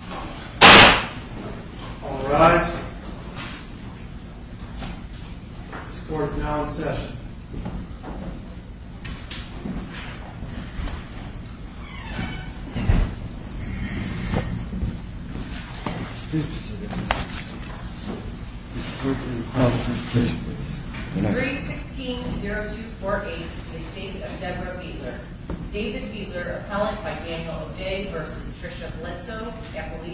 316-0248, Estate of Deborah Beetler. David Beetler, Appellant by Daniel O'Dea v. Tricia Bledsoe, F.D.A.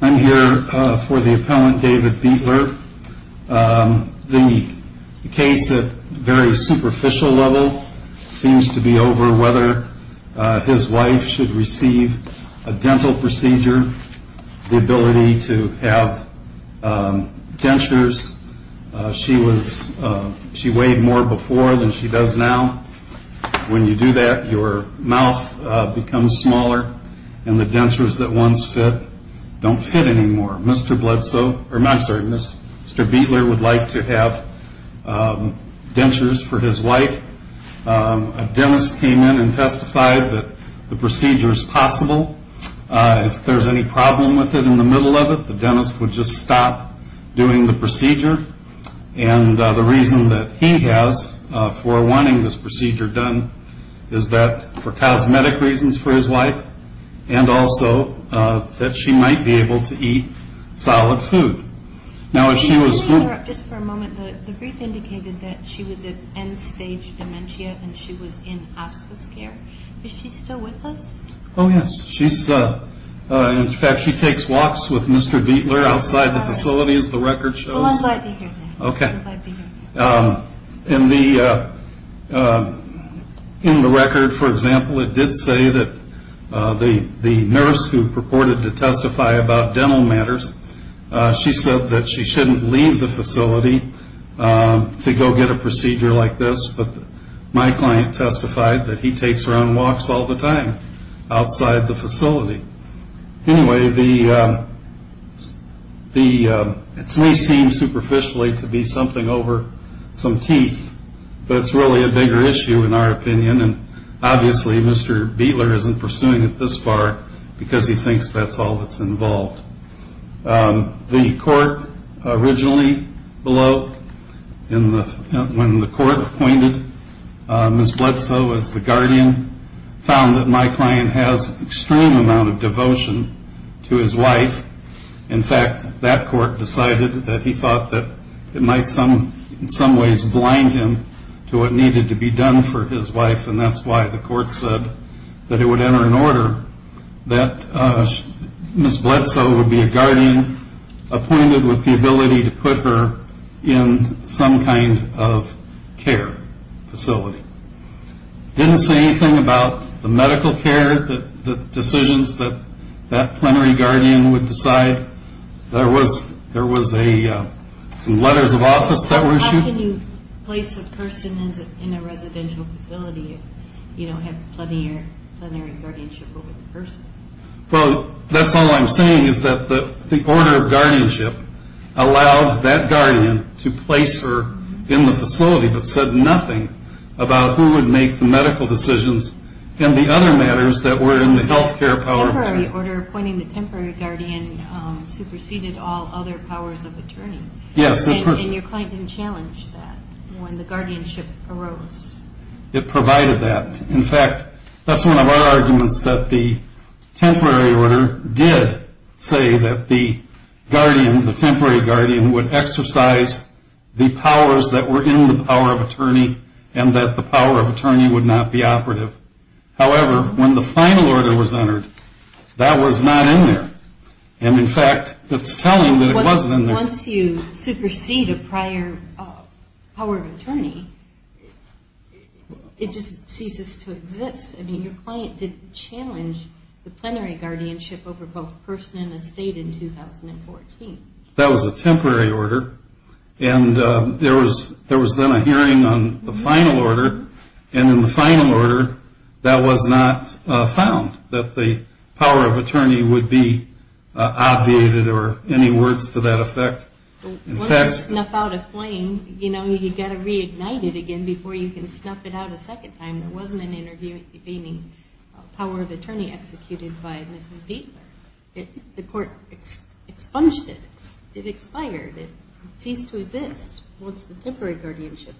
I'm here for the Appellant David Beetler. The case at a very superficial level seems to be over whether his wife should receive a dental procedure, the ability to have dentures. She weighed more before than she does now. When you do that your mouth becomes smaller and the dentures that once fit don't fit anymore. Mr. Beetler would like to have dentures for his wife. A dentist came in and testified that the procedure is possible. If there is any problem with it in the middle of it, the dentist would just stop doing the procedure. The reason that he has for wanting this procedure done is for cosmetic reasons for his wife and also that she might be able to eat solid food. The brief indicated that she was at end stage dementia and she was in hospice care. Is she still with us? Oh yes. In fact she takes walks with Mr. Beetler outside the facility as the record shows. In the record for example it did say that the nurse who purported to testify about dental matters said that she shouldn't leave the facility to go get a procedure like this. My client testified that he takes her on walks all the time outside the facility. It may seem superficially to be something over some teeth, but it's really a bigger issue in our opinion. Obviously Mr. Beetler isn't pursuing it this far because he thinks that's all that's involved. The court originally, when the court appointed Ms. Bledsoe as the guardian, found that my client has an extreme amount of devotion to his wife. In fact that court decided that he thought that it might in some ways blind him to what needed to be done for his wife. That's why the court said that it would enter in order that Ms. Bledsoe would be a guardian appointed with the ability to put her in some kind of care facility. It didn't say anything about the medical care decisions that that plenary guardian would decide. There was some letters of office that were issued. How can you place a person in a residential facility if you don't have plenary guardianship over the person? That's all I'm saying is that the order of guardianship allowed that guardian to place her in the facility, but said nothing about who would make the medical decisions and the other matters that were in the health care power of attorney. The temporary order appointing the temporary guardian superseded all other powers of attorney. Yes. And your client didn't challenge that when the guardianship arose? It provided that. In fact, that's one of our arguments that the temporary order did say that the guardian, the temporary guardian, would exercise the powers that were in the power of attorney and that the power of attorney would not be operative. However, when the final order was entered, that was not in there. And, in fact, it's telling that it wasn't in there. Once you supersede a prior power of attorney, it just ceases to exist. I mean, your client didn't challenge the plenary guardianship over both person and estate in 2014. That was a temporary order, and there was then a hearing on the final order, and in the final order, that was not found, that the power of attorney would be obviated or any words to that effect. Once you snuff out a flame, you know, you've got to reignite it again before you can snuff it out a second time. It wasn't an interview meaning power of attorney executed by Mrs. Buechler. The court expunged it. It expired. It ceased to exist. Once the temporary guardianship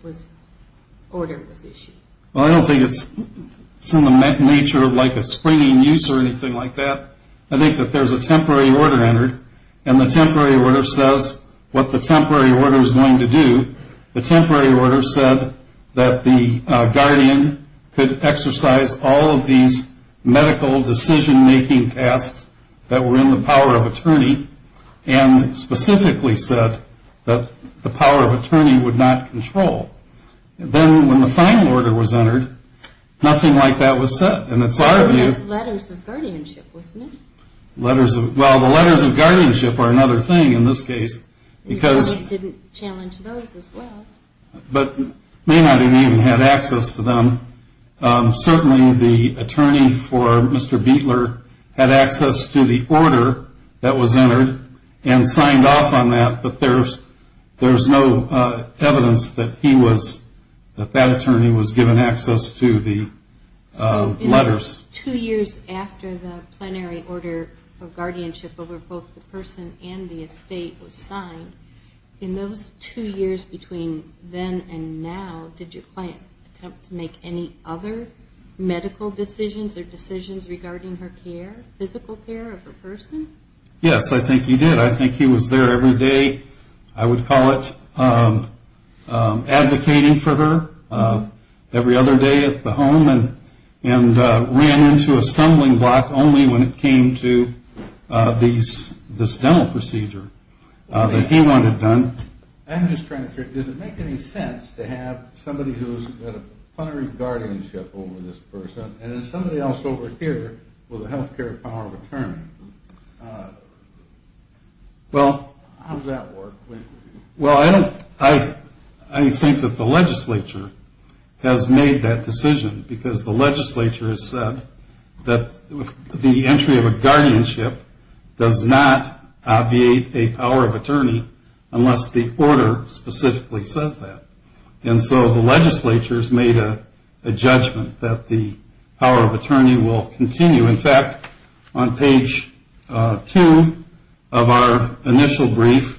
order was issued. Well, I don't think it's in the nature of, like, a springing use or anything like that. I think that there's a temporary order entered, and the temporary order says what the temporary order is going to do. The temporary order said that the guardian could exercise all of these medical decision-making tasks that were in the power of attorney and specifically said that the power of attorney would not control. Then when the final order was entered, nothing like that was said. And it's hard to do. It said letters of guardianship, wasn't it? Letters of, well, the letters of guardianship are another thing in this case because. You probably didn't challenge those as well. But Maynard didn't even have access to them. Certainly the attorney for Mr. Buechler had access to the order that was entered and signed off on that. But there's no evidence that he was, that that attorney was given access to the letters. Two years after the plenary order of guardianship over both the person and the estate was signed, in those two years between then and now, did your client attempt to make any other medical decisions or decisions regarding her care, physical care of her person? Yes, I think he did. I think he was there every day, I would call it advocating for her, every other day at the home, and ran into a stumbling block only when it came to this dental procedure. That he wouldn't have done. I'm just trying to figure, does it make any sense to have somebody who's got a plenary guardianship over this person and then somebody else over here with a health care power of attorney? How does that work? Well, I think that the legislature has made that decision because the legislature has said that the entry of a guardianship does not obviate a power of attorney unless the order specifically says that. And so the legislature has made a judgment that the power of attorney will continue. In fact, on page two of our initial brief,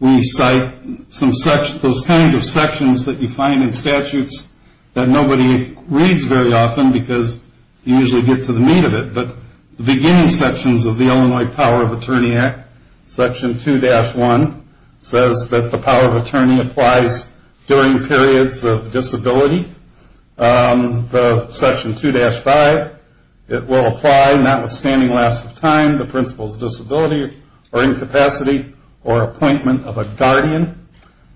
we cite those kinds of sections that you find in statutes that nobody reads very often because you usually get to the meat of it. But the beginning sections of the Illinois Power of Attorney Act, section 2-1, says that the power of attorney applies during periods of disability. Section 2-5, it will apply notwithstanding lapse of time, the principal's disability or incapacity or appointment of a guardian,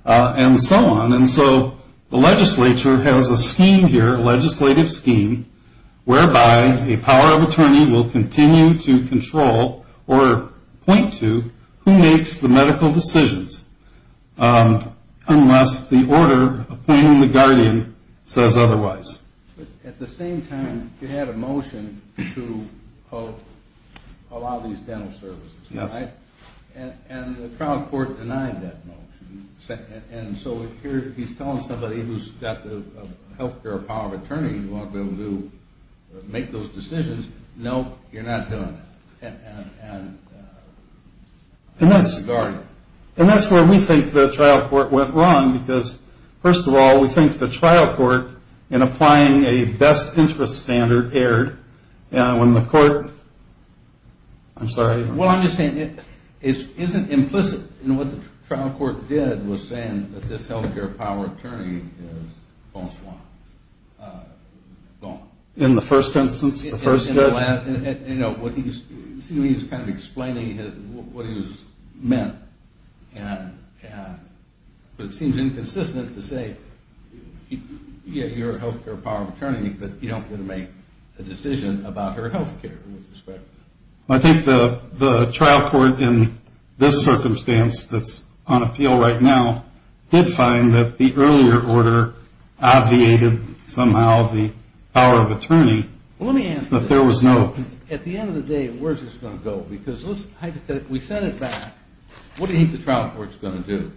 and so on. And so the legislature has a scheme here, a legislative scheme, whereby a power of attorney will continue to control or point to who makes the medical decisions unless the order appointing the guardian says otherwise. At the same time, you had a motion to allow these dental services, right? And the trial court denied that motion. And so here he's telling somebody who's got the health care power of attorney who ought to be able to make those decisions, no, you're not doing it. And that's the guardian. And that's where we think the trial court went wrong because, first of all, we think the trial court, in applying a best interest standard, erred. When the court, I'm sorry. Well, I'm just saying it isn't implicit. You know, what the trial court did was say that this health care power of attorney is gone. In the first instance, the first judge? You know, he's kind of explaining what he's meant, but it seems inconsistent to say, yeah, you're a health care power of attorney, but you don't get to make a decision about her health care. I think the trial court, in this circumstance that's on appeal right now, did find that the earlier order obviated somehow the power of attorney. Let me ask you this. But there was no. At the end of the day, where's this going to go? Because we sent it back. What do you think the trial court's going to do?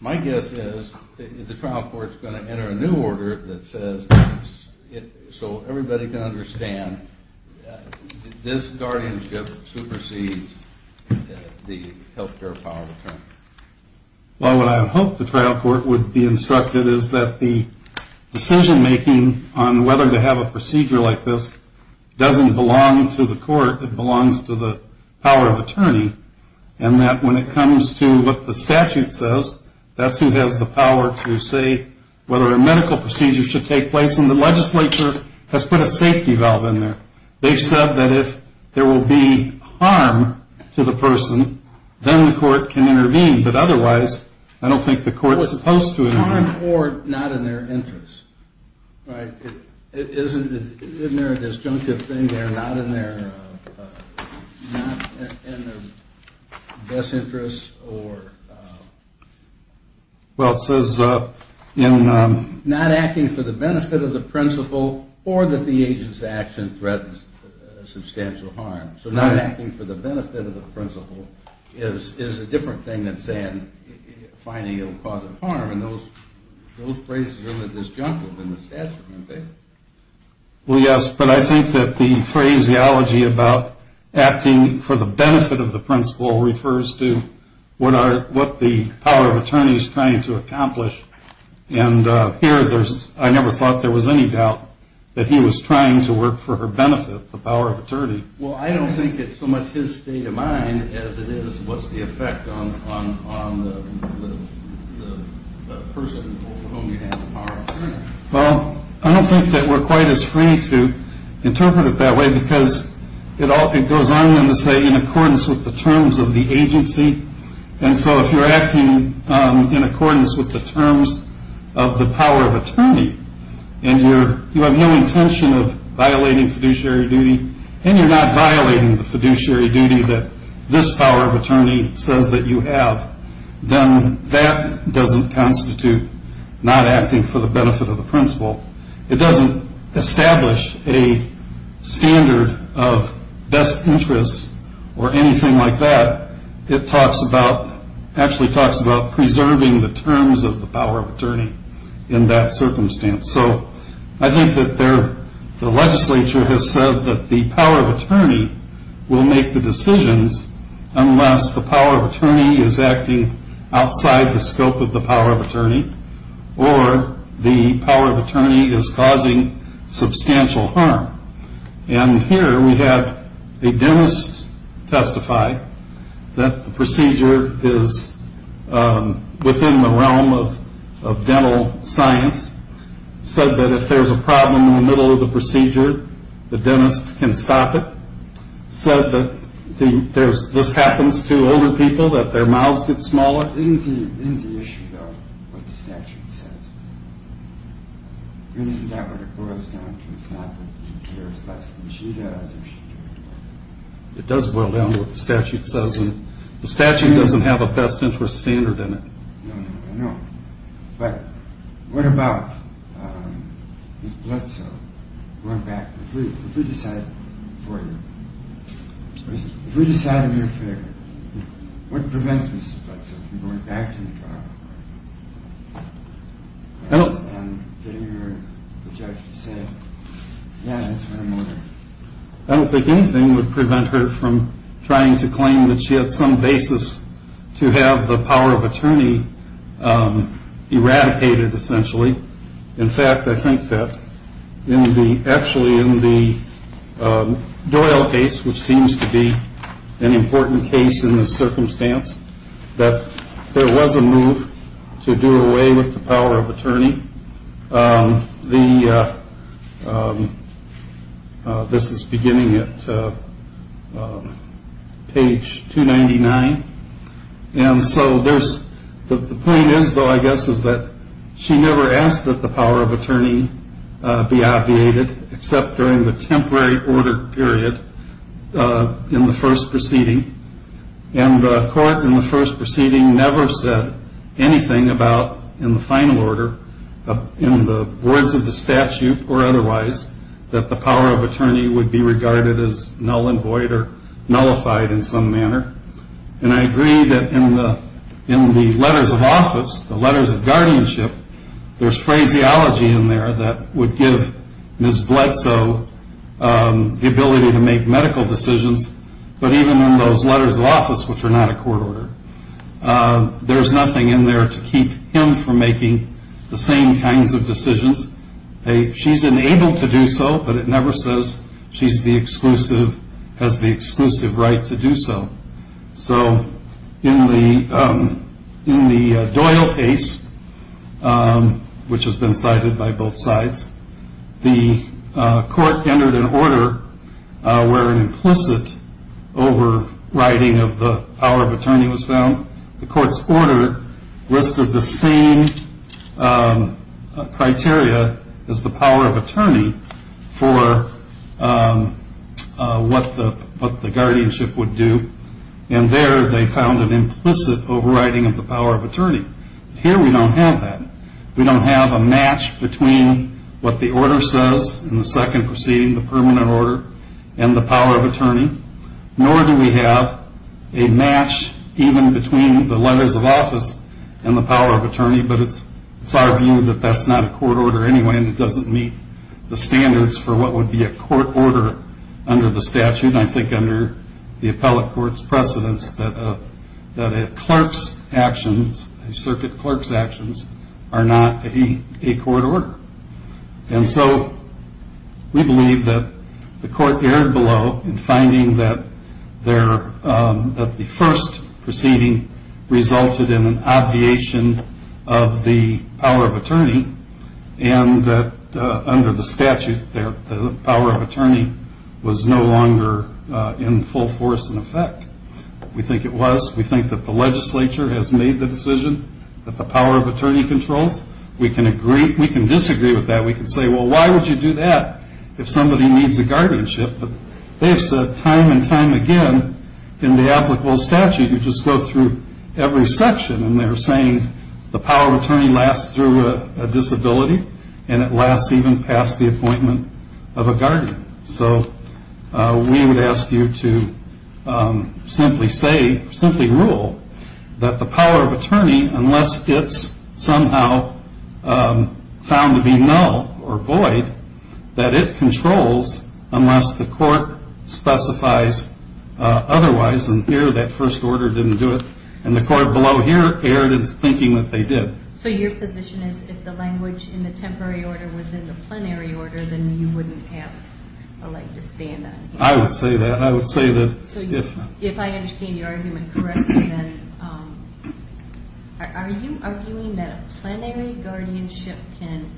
My guess is the trial court's going to enter a new order that says, so everybody can understand, this guardianship supersedes the health care power of attorney. Well, what I hope the trial court would be instructed is that the decision-making on whether to have a procedure like this doesn't belong to the court. It belongs to the power of attorney, and that when it comes to what the statute says, that's who has the power to say whether a medical procedure should take place, and the legislature has put a safety valve in there. They've said that if there will be harm to the person, then the court can intervene. But otherwise, I don't think the court's supposed to intervene. Harm or not in their interest, right? Isn't there a disjunctive thing there, not in their best interest or not acting for the benefit of the principal or that the agent's action threatens substantial harm. So not acting for the benefit of the principal is a different thing than saying, finding it will cause harm, and those phrases are really disjunctive in the statute, aren't they? Well, yes, but I think that the phraseology about acting for the benefit of the principal refers to what the power of attorney is trying to accomplish, and here I never thought there was any doubt that he was trying to work for her benefit, the power of attorney. Well, I don't think it's so much his state of mind as it is what's the effect Well, I don't think that we're quite as free to interpret it that way because it goes on to say in accordance with the terms of the agency, and so if you're acting in accordance with the terms of the power of attorney and you have no intention of violating fiduciary duty and you're not violating the fiduciary duty that this power of attorney says that you have, then that doesn't constitute not acting for the benefit of the principal. It doesn't establish a standard of best interests or anything like that. It actually talks about preserving the terms of the power of attorney in that circumstance. So I think that the legislature has said that the power of attorney will make the decisions unless the power of attorney is acting outside the scope of the power of attorney or the power of attorney is causing substantial harm, and here we have a dentist testify that the procedure is within the realm of dental science, said that if there's a problem in the middle of the procedure, the dentist can stop it, said that this happens to older people, that their mouths get smaller. Isn't the issue, though, what the statute says? Isn't that what it boils down to? It's not that he cares less than she does or she cares more. It does boil down to what the statute says, and the statute doesn't have a best interest standard in it. No, no, no. But what about Mrs. Bledsoe going back? If we decide for you, if we decide in your favor, what prevents Mrs. Bledsoe from going back to the trial? I don't think anything would prevent her from trying to claim that she had some basis to have the power of attorney eradicated, essentially. In fact, I think that actually in the Doyle case, which seems to be an important case in this circumstance, that there was a move to do away with the power of attorney. This is beginning at page 299. And so the point is, though, I guess, is that she never asked that the power of attorney be obviated except during the temporary order period in the first proceeding. And the court in the first proceeding never said anything about, in the final order, in the words of the statute or otherwise, that the power of attorney would be regarded as null and void or nullified in some manner. And I agree that in the letters of office, the letters of guardianship, there's phraseology in there that would give Mrs. Bledsoe the ability to make medical decisions. But even in those letters of office, which are not a court order, there's nothing in there to keep him from making the same kinds of decisions. She's enabled to do so, but it never says she has the exclusive right to do so. So in the Doyle case, which has been cited by both sides, the court entered an order where an implicit overriding of the power of attorney was found. The court's order listed the same criteria as the power of attorney for what the guardianship would do. And there they found an implicit overriding of the power of attorney. Here we don't have that. We don't have a match between what the order says in the second proceeding, the permanent order, and the power of attorney. Nor do we have a match even between the letters of office and the power of attorney. But it's our view that that's not a court order anyway, and it doesn't meet the standards for what would be a court order under the statute. And I think under the appellate court's precedence that a clerk's actions, a circuit clerk's actions, are not a court order. And so we believe that the court erred below in finding that the first proceeding resulted in an obviation of the power of attorney, and that under the statute the power of attorney was no longer in full force and effect. We think it was. We think that the legislature has made the decision that the power of attorney controls. We can disagree with that. We can say, well, why would you do that if somebody needs a guardianship? But they have said time and time again in the applicable statute, you just go through every section and they're saying the power of attorney lasts through a disability and it lasts even past the appointment of a guardian. So we would ask you to simply say, simply rule, that the power of attorney, unless it's somehow found to be null or void, that it controls unless the court specifies otherwise. And here that first order didn't do it. And the court below here erred in thinking that they did. So your position is if the language in the temporary order was in the plenary order, then you wouldn't have a right to stand on here? I would say that. I would say that. So if I understand your argument correctly, then are you arguing that a plenary guardianship can,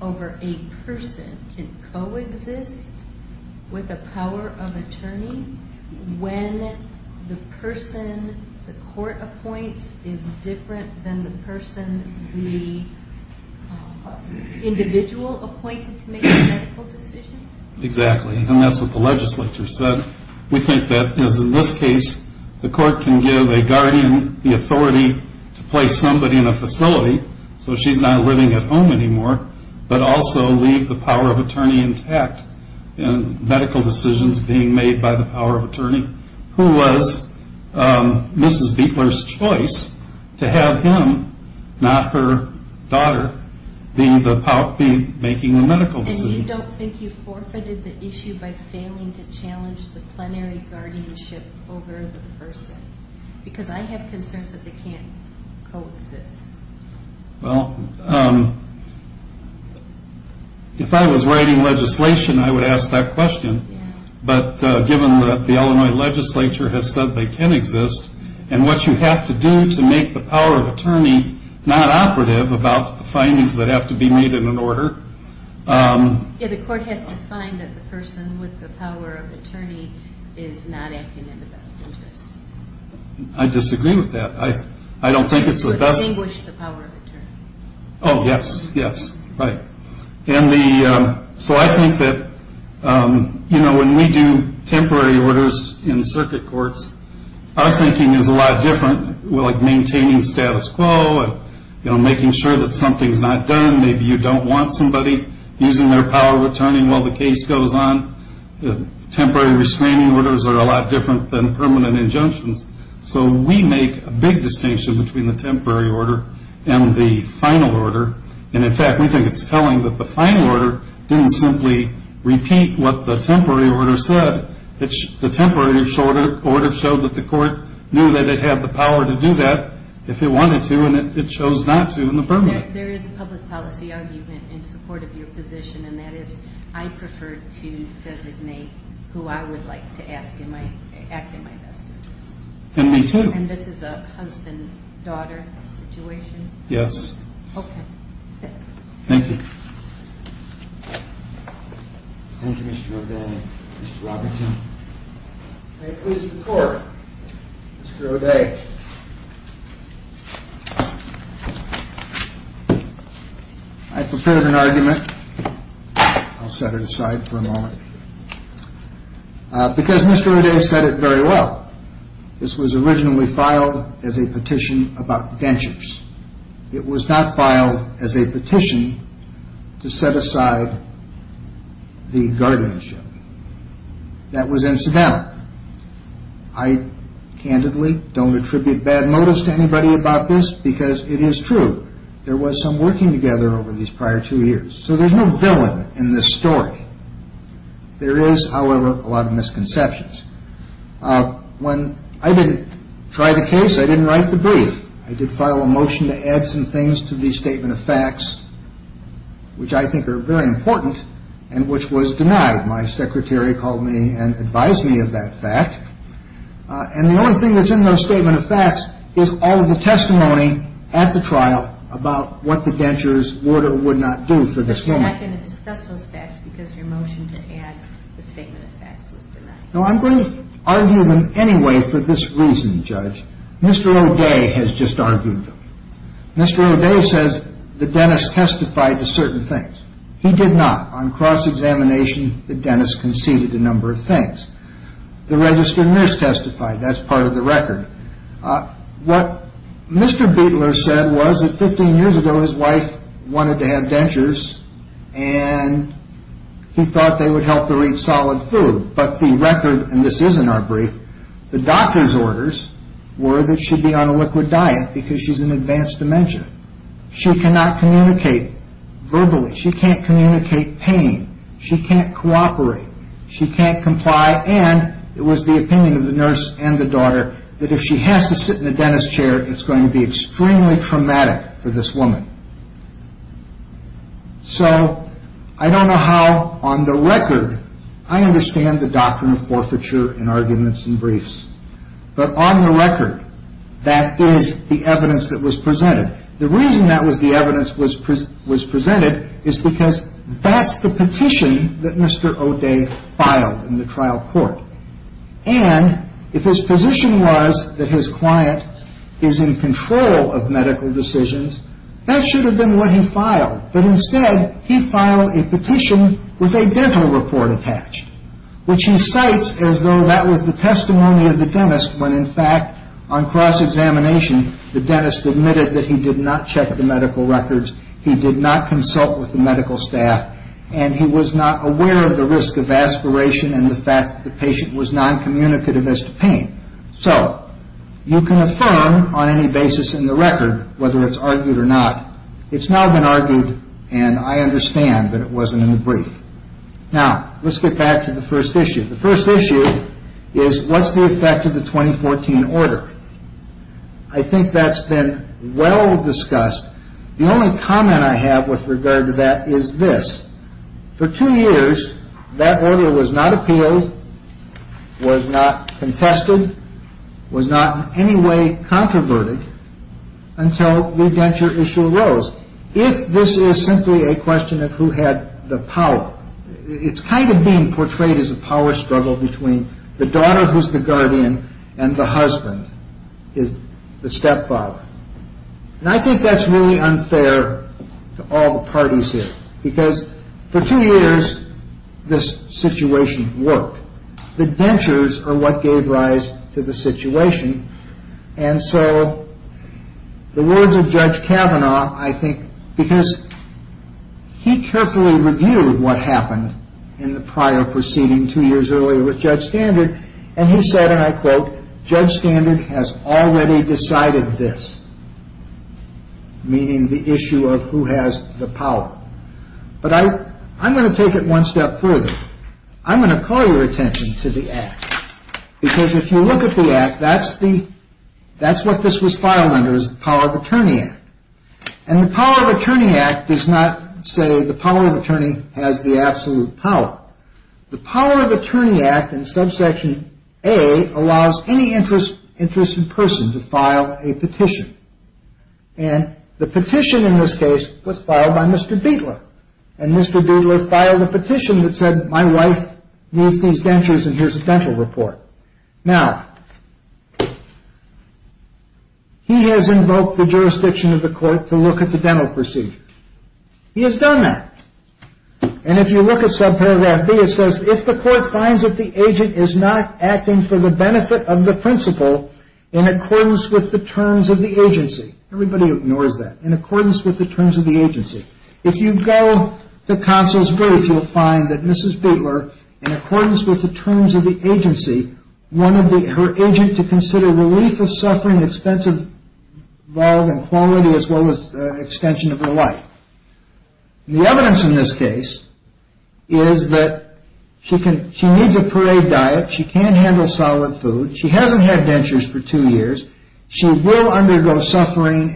over a person, can coexist with the power of attorney when the person the court appoints is different than the person the individual appointed to make the medical decisions? Exactly. And that's what the legislature said. We think that, as in this case, the court can give a guardian the authority to place somebody in a facility so she's not living at home anymore, but also leave the power of attorney intact in medical decisions being made by the power of attorney, who was Mrs. Buechler's choice to have him, not her daughter, be making the medical decisions. And you don't think you forfeited the issue by failing to challenge the plenary guardianship over the person? Because I have concerns that they can't coexist. Well, if I was writing legislation, I would ask that question. But given that the Illinois legislature has said they can exist, and what you have to do to make the power of attorney not operative about the findings that have to be made in an order. Yeah, the court has to find that the person with the power of attorney is not acting in the best interest. I disagree with that. I don't think it's the best. To distinguish the power of attorney. Oh, yes, yes, right. And so I think that when we do temporary orders in circuit courts, our thinking is a lot different, like maintaining status quo, making sure that something's not done. Maybe you don't want somebody using their power of attorney while the case goes on. Temporary restraining orders are a lot different than permanent injunctions. So we make a big distinction between the temporary order and the final order. And, in fact, we think it's telling that the final order didn't simply repeat what the temporary order said. The temporary order showed that the court knew that it had the power to do that if it wanted to, and it chose not to in the permanent. There is a public policy argument in support of your position, and that is I prefer to designate who I would like to act in my best interest. And me, too. And this is a husband-daughter situation? Yes. Okay. Thank you. Thank you, Mr. O'Day. Mr. Robertson. May it please the Court, Mr. O'Day. I've prepared an argument. I'll set it aside for a moment. Because Mr. O'Day said it very well, this was originally filed as a petition about dentures. It was not filed as a petition to set aside the guardianship. That was incidental. I candidly don't attribute bad motives to anybody about this because it is true. There was some working together over these prior two years. So there's no villain in this story. There is, however, a lot of misconceptions. When I didn't try the case, I didn't write the brief. I did file a motion to add some things to the statement of facts, which I think are very important, and which was denied. My secretary called me and advised me of that fact. And the only thing that's in those statement of facts is all of the testimony at the trial about what the dentures order would not do for this woman. You're not going to discuss those facts because your motion to add the statement of facts was denied. No, I'm going to argue them anyway for this reason, Judge. Mr. O'Day has just argued them. Mr. O'Day says the dentist testified to certain things. He did not. On cross-examination, the dentist conceded a number of things. The registered nurse testified. That's part of the record. What Mr. Beatler said was that 15 years ago his wife wanted to have dentures and he thought they would help her eat solid food. But the record, and this is in our brief, the doctor's orders were that she'd be on a liquid diet because she's in advanced dementia. She cannot communicate verbally. She can't communicate pain. She can't cooperate. She can't comply. And it was the opinion of the nurse and the daughter that if she has to sit in a dentist chair, it's going to be extremely traumatic for this woman. So I don't know how on the record I understand the doctrine of forfeiture in arguments and briefs. But on the record, that is the evidence that was presented. The reason that was the evidence was presented is because that's the petition that Mr. O'Day filed in the trial court. And if his position was that his client is in control of medical decisions, that should have been what he filed. But instead, he filed a petition with a dental report attached, which he cites as though that was the testimony of the dentist when, in fact, on cross-examination, the dentist admitted that he did not check the medical records, he did not consult with the medical staff, and he was not aware of the risk of aspiration and the fact that the patient was noncommunicative as to pain. So you can affirm on any basis in the record whether it's argued or not. It's now been argued, and I understand that it wasn't in the brief. Now, let's get back to the first issue. The first issue is what's the effect of the 2014 order? I think that's been well discussed. The only comment I have with regard to that is this. For two years, that order was not appealed, was not contested, was not in any way controverted until the indenture issue arose. If this is simply a question of who had the power, it's kind of being portrayed as a power struggle between the daughter who's the guardian and the husband, the stepfather. And I think that's really unfair to all the parties here because for two years, this situation worked. The dentures are what gave rise to the situation, and so the words of Judge Kavanaugh, I think, because he carefully reviewed what happened in the prior proceeding two years earlier with Judge Standard, and he said, and I quote, Judge Standard has already decided this, meaning the issue of who has the power. But I'm going to take it one step further. I'm going to call your attention to the Act because if you look at the Act, that's what this was filed under is the Power of Attorney Act. And the Power of Attorney Act does not say the power of attorney has the absolute power. The Power of Attorney Act in subsection A allows any interest in person to file a petition. And the petition in this case was filed by Mr. Biedler, and Mr. Biedler filed a petition that said my wife needs these dentures and here's a dental report. Now, he has invoked the jurisdiction of the court to look at the dental procedure. He has done that. And if you look at subparagraph B, it says if the court finds that the agent is not acting for the benefit of the principal in accordance with the terms of the agency, everybody ignores that, in accordance with the terms of the agency. If you go to counsel's brief, you'll find that Mrs. Biedler, in accordance with the terms of the agency, wanted her agent to consider relief of suffering, expensive, quality, as well as extension of her life. The evidence in this case is that she needs a parade diet. She can't handle solid food. She hasn't had dentures for two years. She will undergo suffering,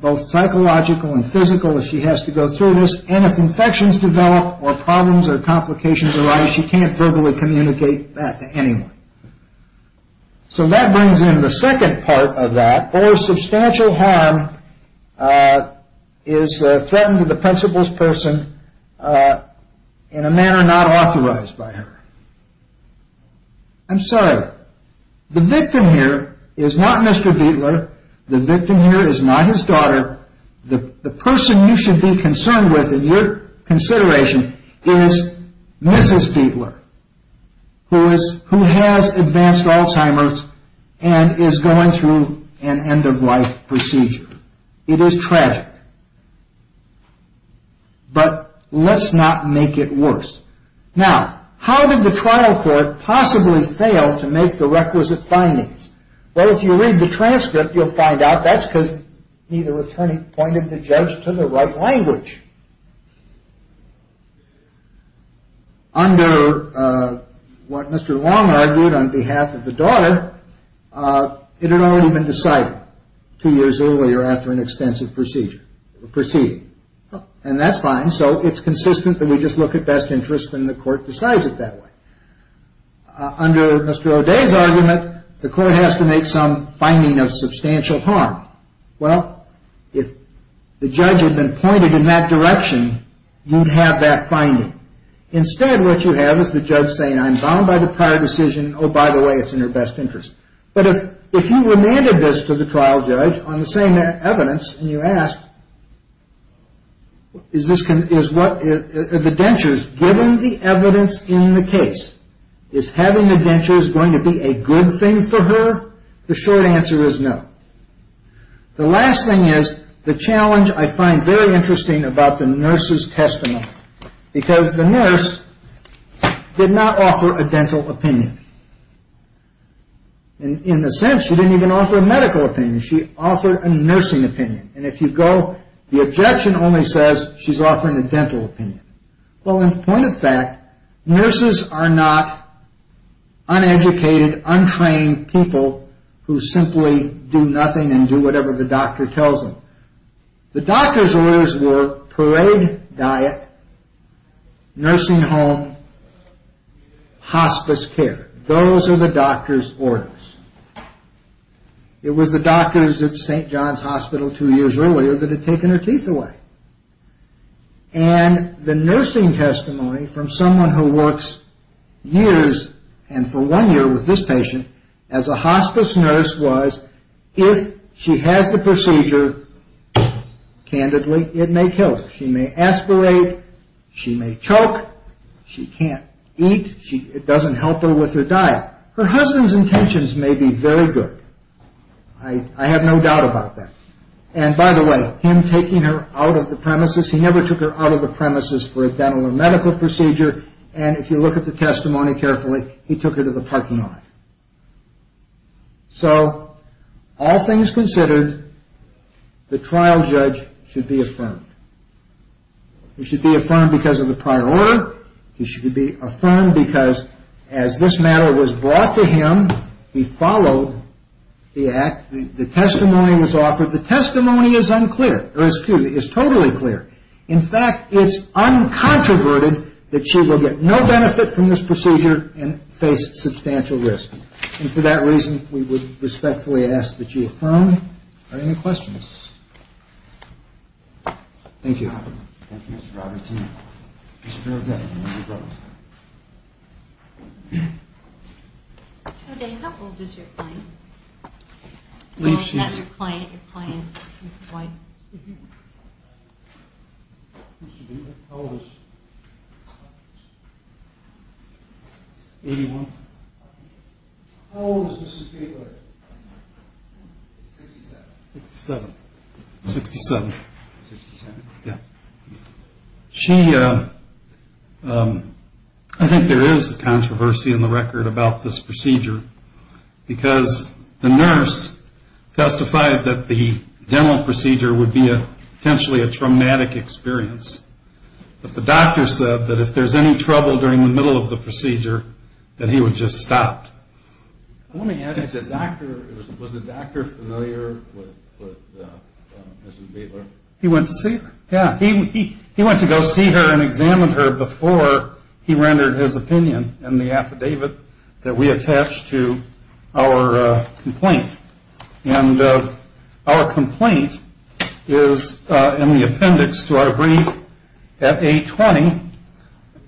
both psychological and physical, if she has to go through this. And if infections develop or problems or complications arise, she can't verbally communicate that to anyone. So that brings in the second part of that, or substantial harm is threatened to the principal's person in a manner not authorized by her. I'm sorry. The victim here is not Mr. Biedler. The victim here is not his daughter. The person you should be concerned with in your consideration is Mrs. Biedler, who has advanced Alzheimer's and is going through an end-of-life procedure. It is tragic. But let's not make it worse. Now, how did the trial court possibly fail to make the requisite findings? Well, if you read the transcript, you'll find out that's because neither attorney pointed the judge to the right language. Under what Mr. Long argued on behalf of the daughter, it had already been decided two years earlier after an extensive procedure, and that's fine, so it's consistent that we just look at best interest and the court decides it that way. Under Mr. O'Day's argument, the court has to make some finding of substantial harm. Well, if the judge had been pointed in that direction, you'd have that finding. Instead, what you have is the judge saying, I'm bound by the prior decision. Oh, by the way, it's in her best interest. But if you remanded this to the trial judge on the same evidence and you asked, given the evidence in the case, is having a denture going to be a good thing for her? The short answer is no. The last thing is the challenge I find very interesting about the nurse's testimony, because the nurse did not offer a dental opinion. In a sense, she didn't even offer a medical opinion. She offered a nursing opinion. And if you go, the objection only says she's offering a dental opinion. Well, in point of fact, nurses are not uneducated, untrained people who simply do nothing and do whatever the doctor tells them. The doctor's orders were parade diet, nursing home, hospice care. Those are the doctor's orders. It was the doctors at St. John's Hospital two years earlier that had taken her teeth away. And the nursing testimony from someone who works years, and for one year with this patient, as a hospice nurse was, if she has the procedure, candidly, it may kill her. She may aspirate. She may choke. She can't eat. It doesn't help her with her diet. Her husband's intentions may be very good. I have no doubt about that. And by the way, him taking her out of the premises, he never took her out of the premises for a dental or medical procedure. And if you look at the testimony carefully, he took her to the parking lot. So, all things considered, the trial judge should be affirmed. He should be affirmed because of the prior order. He should be affirmed because as this matter was brought to him, he followed the act. The testimony was offered. The testimony is unclear, or excuse me, is totally clear. In fact, it's uncontroverted that she will get no benefit from this procedure and face substantial risk. And for that reason, we would respectfully ask that you affirm. Are there any questions? Thank you. Thank you, Mr. Robertson. Mr. O'Day. How old is your client? I'm not your client. Your client is employed. How old is she? Eighty-one. How old is Mrs. Gateway? Sixty-seven. Sixty-seven. Sixty-seven. Sixty-seven. Yeah. She, I think there is a controversy in the record about this procedure, because the nurse testified that the dental procedure would be potentially a traumatic experience. But the doctor said that if there's any trouble during the middle of the procedure, that he would just stop. Let me add that the doctor, was the doctor familiar with Mrs. Gateway? He went to see her. Yeah. He went to go see her and examine her before he rendered his opinion in the affidavit that we attached to our complaint. And our complaint is in the appendix to our brief at A20,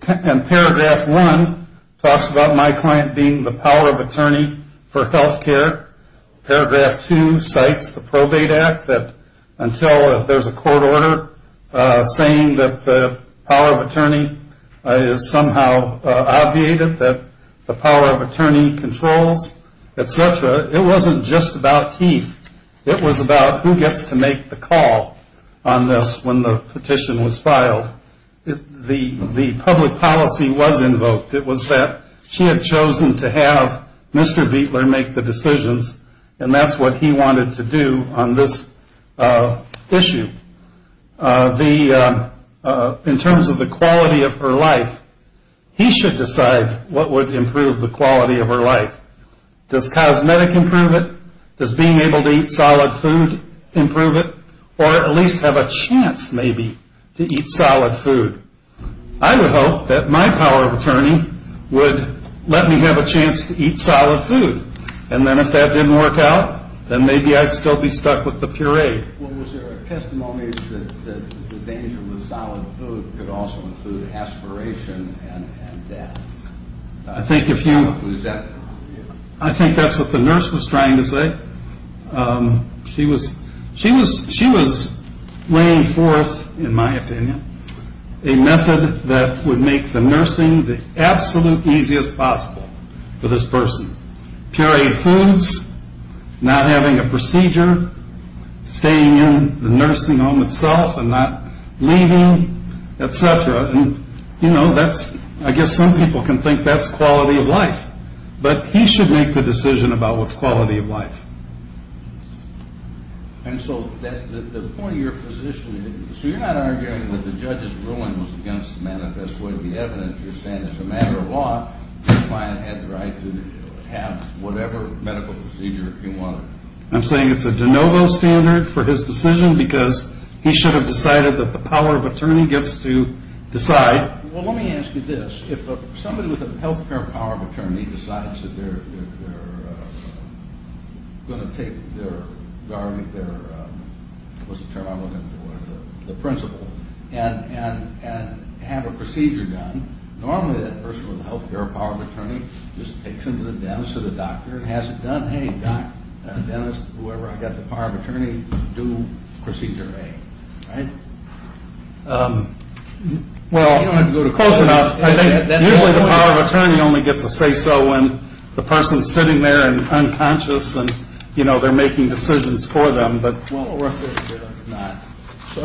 and paragraph one talks about my client being the power of attorney for health care. Paragraph two cites the Probate Act that until there's a court order saying that the power of attorney is somehow obviated, that the power of attorney controls, et cetera, it wasn't just about teeth. It was about who gets to make the call on this when the petition was filed. The public policy was invoked. It was that she had chosen to have Mr. Bietler make the decisions, and that's what he wanted to do on this issue. In terms of the quality of her life, he should decide what would improve the quality of her life. Does cosmetic improve it? Does being able to eat solid food improve it? Or at least have a chance maybe to eat solid food. I would hope that my power of attorney would let me have a chance to eat solid food, and then if that didn't work out, then maybe I'd still be stuck with the puree. Well, was there a testimony that the danger with solid food could also include aspiration and death? I think that's what the nurse was trying to say. She was weighing forth, in my opinion, a method that would make the nursing the absolute easiest possible for this person. Pureed foods, not having a procedure, staying in the nursing home itself and not leaving, et cetera. I guess some people can think that's quality of life. But he should make the decision about what's quality of life. And so that's the point of your position. So you're not arguing that the judge's ruling was against the manifest way of the evidence. You're saying as a matter of law, the client had the right to have whatever medical procedure he wanted. I'm saying it's a de novo standard for his decision because he should have decided that the power of attorney gets to decide. Well, let me ask you this. If somebody with a health care power of attorney decides that they're going to take their guardian, what's the term I'm looking for, the principal, and have a procedure done, normally that person with a health care power of attorney just takes them to the dentist or the doctor and has it done. Hey, doc, dentist, whoever, I've got the power of attorney, do procedure A. Right? Well, close enough. I think usually the power of attorney only gets a say so when the person's sitting there and unconscious and they're making decisions for them. I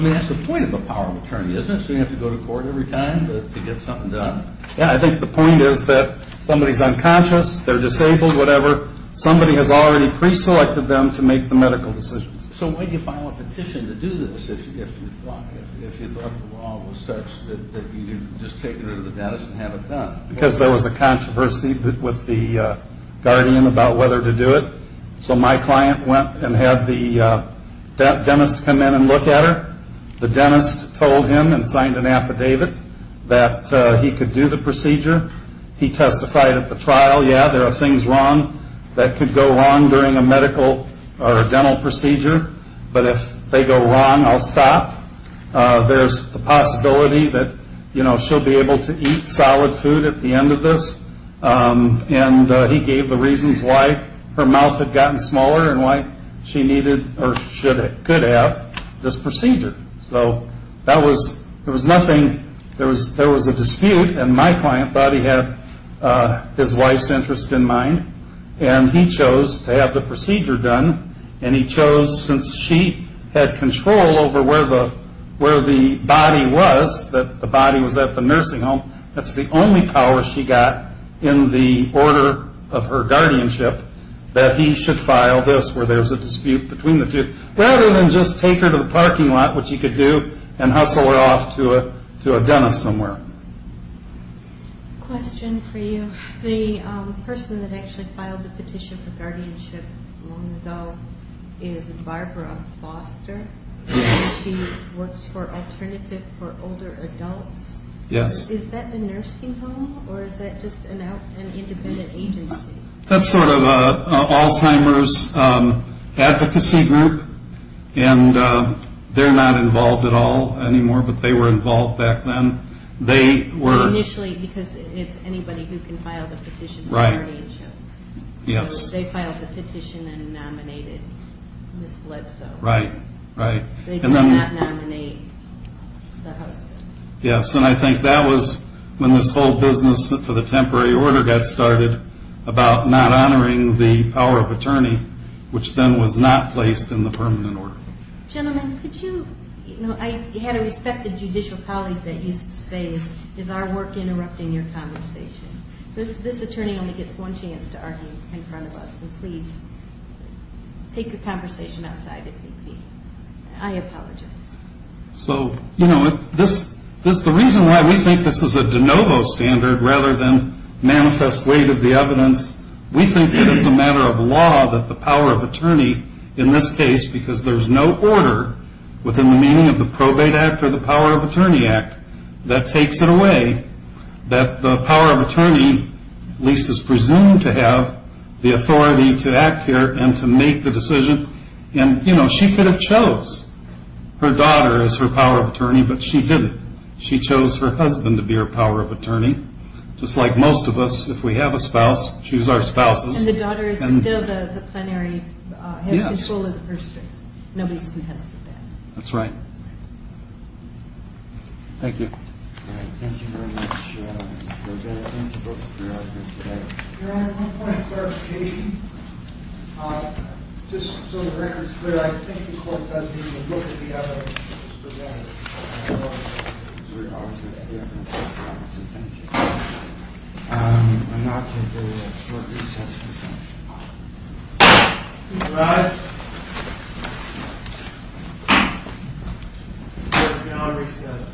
mean, that's the point of the power of attorney, isn't it? So you have to go to court every time to get something done. Yeah, I think the point is that somebody's unconscious, they're disabled, whatever. Somebody has already preselected them to make the medical decisions. So why do you file a petition to do this if you thought the law was such that you just take it to the dentist and have it done? Because there was a controversy with the guardian about whether to do it. So my client went and had the dentist come in and look at her. The dentist told him and signed an affidavit that he could do the procedure. He testified at the trial, yeah, there are things wrong that could go wrong during a medical or a dental procedure, but if they go wrong, I'll stop. There's the possibility that she'll be able to eat solid food at the end of this. And he gave the reasons why her mouth had gotten smaller and why she needed or could have this procedure. So there was nothing, there was a dispute, and my client thought he had his wife's interest in mind, and he chose to have the procedure done. And he chose, since she had control over where the body was, that the body was at the nursing home, that's the only power she got in the order of her guardianship, that he should file this where there's a dispute between the two. Rather than just take her to the parking lot, which he could do, and hustle her off to a dentist somewhere. Question for you. The person that actually filed the petition for guardianship long ago is Barbara Foster. She works for Alternative for Older Adults. Yes. Is that the nursing home, or is that just an independent agency? That's sort of Alzheimer's advocacy group. And they're not involved at all anymore, but they were involved back then. They were. Initially, because it's anybody who can file the petition for guardianship. Yes. So they filed the petition and nominated Ms. Bledsoe. Right, right. They did not nominate the husband. Yes, and I think that was when this whole business for the temporary order got started, about not honoring the power of attorney, which then was not placed in the permanent order. Gentlemen, could you, you know, I had a respected judicial colleague that used to say, is our work interrupting your conversation? This attorney only gets one chance to argue in front of us, and please take your conversation outside if you'd be, I apologize. So, you know, the reason why we think this is a de novo standard rather than manifest weight of the evidence, we think that it's a matter of law that the power of attorney in this case, because there's no order within the meaning of the Probate Act or the Power of Attorney Act, that takes it away. That the power of attorney at least is presumed to have the authority to act here and to make the decision, and, you know, she could have chose. Her daughter is her power of attorney, but she didn't. She chose her husband to be her power of attorney. Just like most of us, if we have a spouse, choose our spouses. And the daughter is still the plenary, has control of the purse strings. Yes. Nobody's contested that. That's right. Thank you. All right. Thank you very much, Mr. O'Donnell. Thank you both for being out here today. Your Honor, one point of clarification. Just so the record's clear, I think the court does need to look at the evidence presented. I don't know. I'm going to have to do a short recess to finish. All right. We're beyond recess.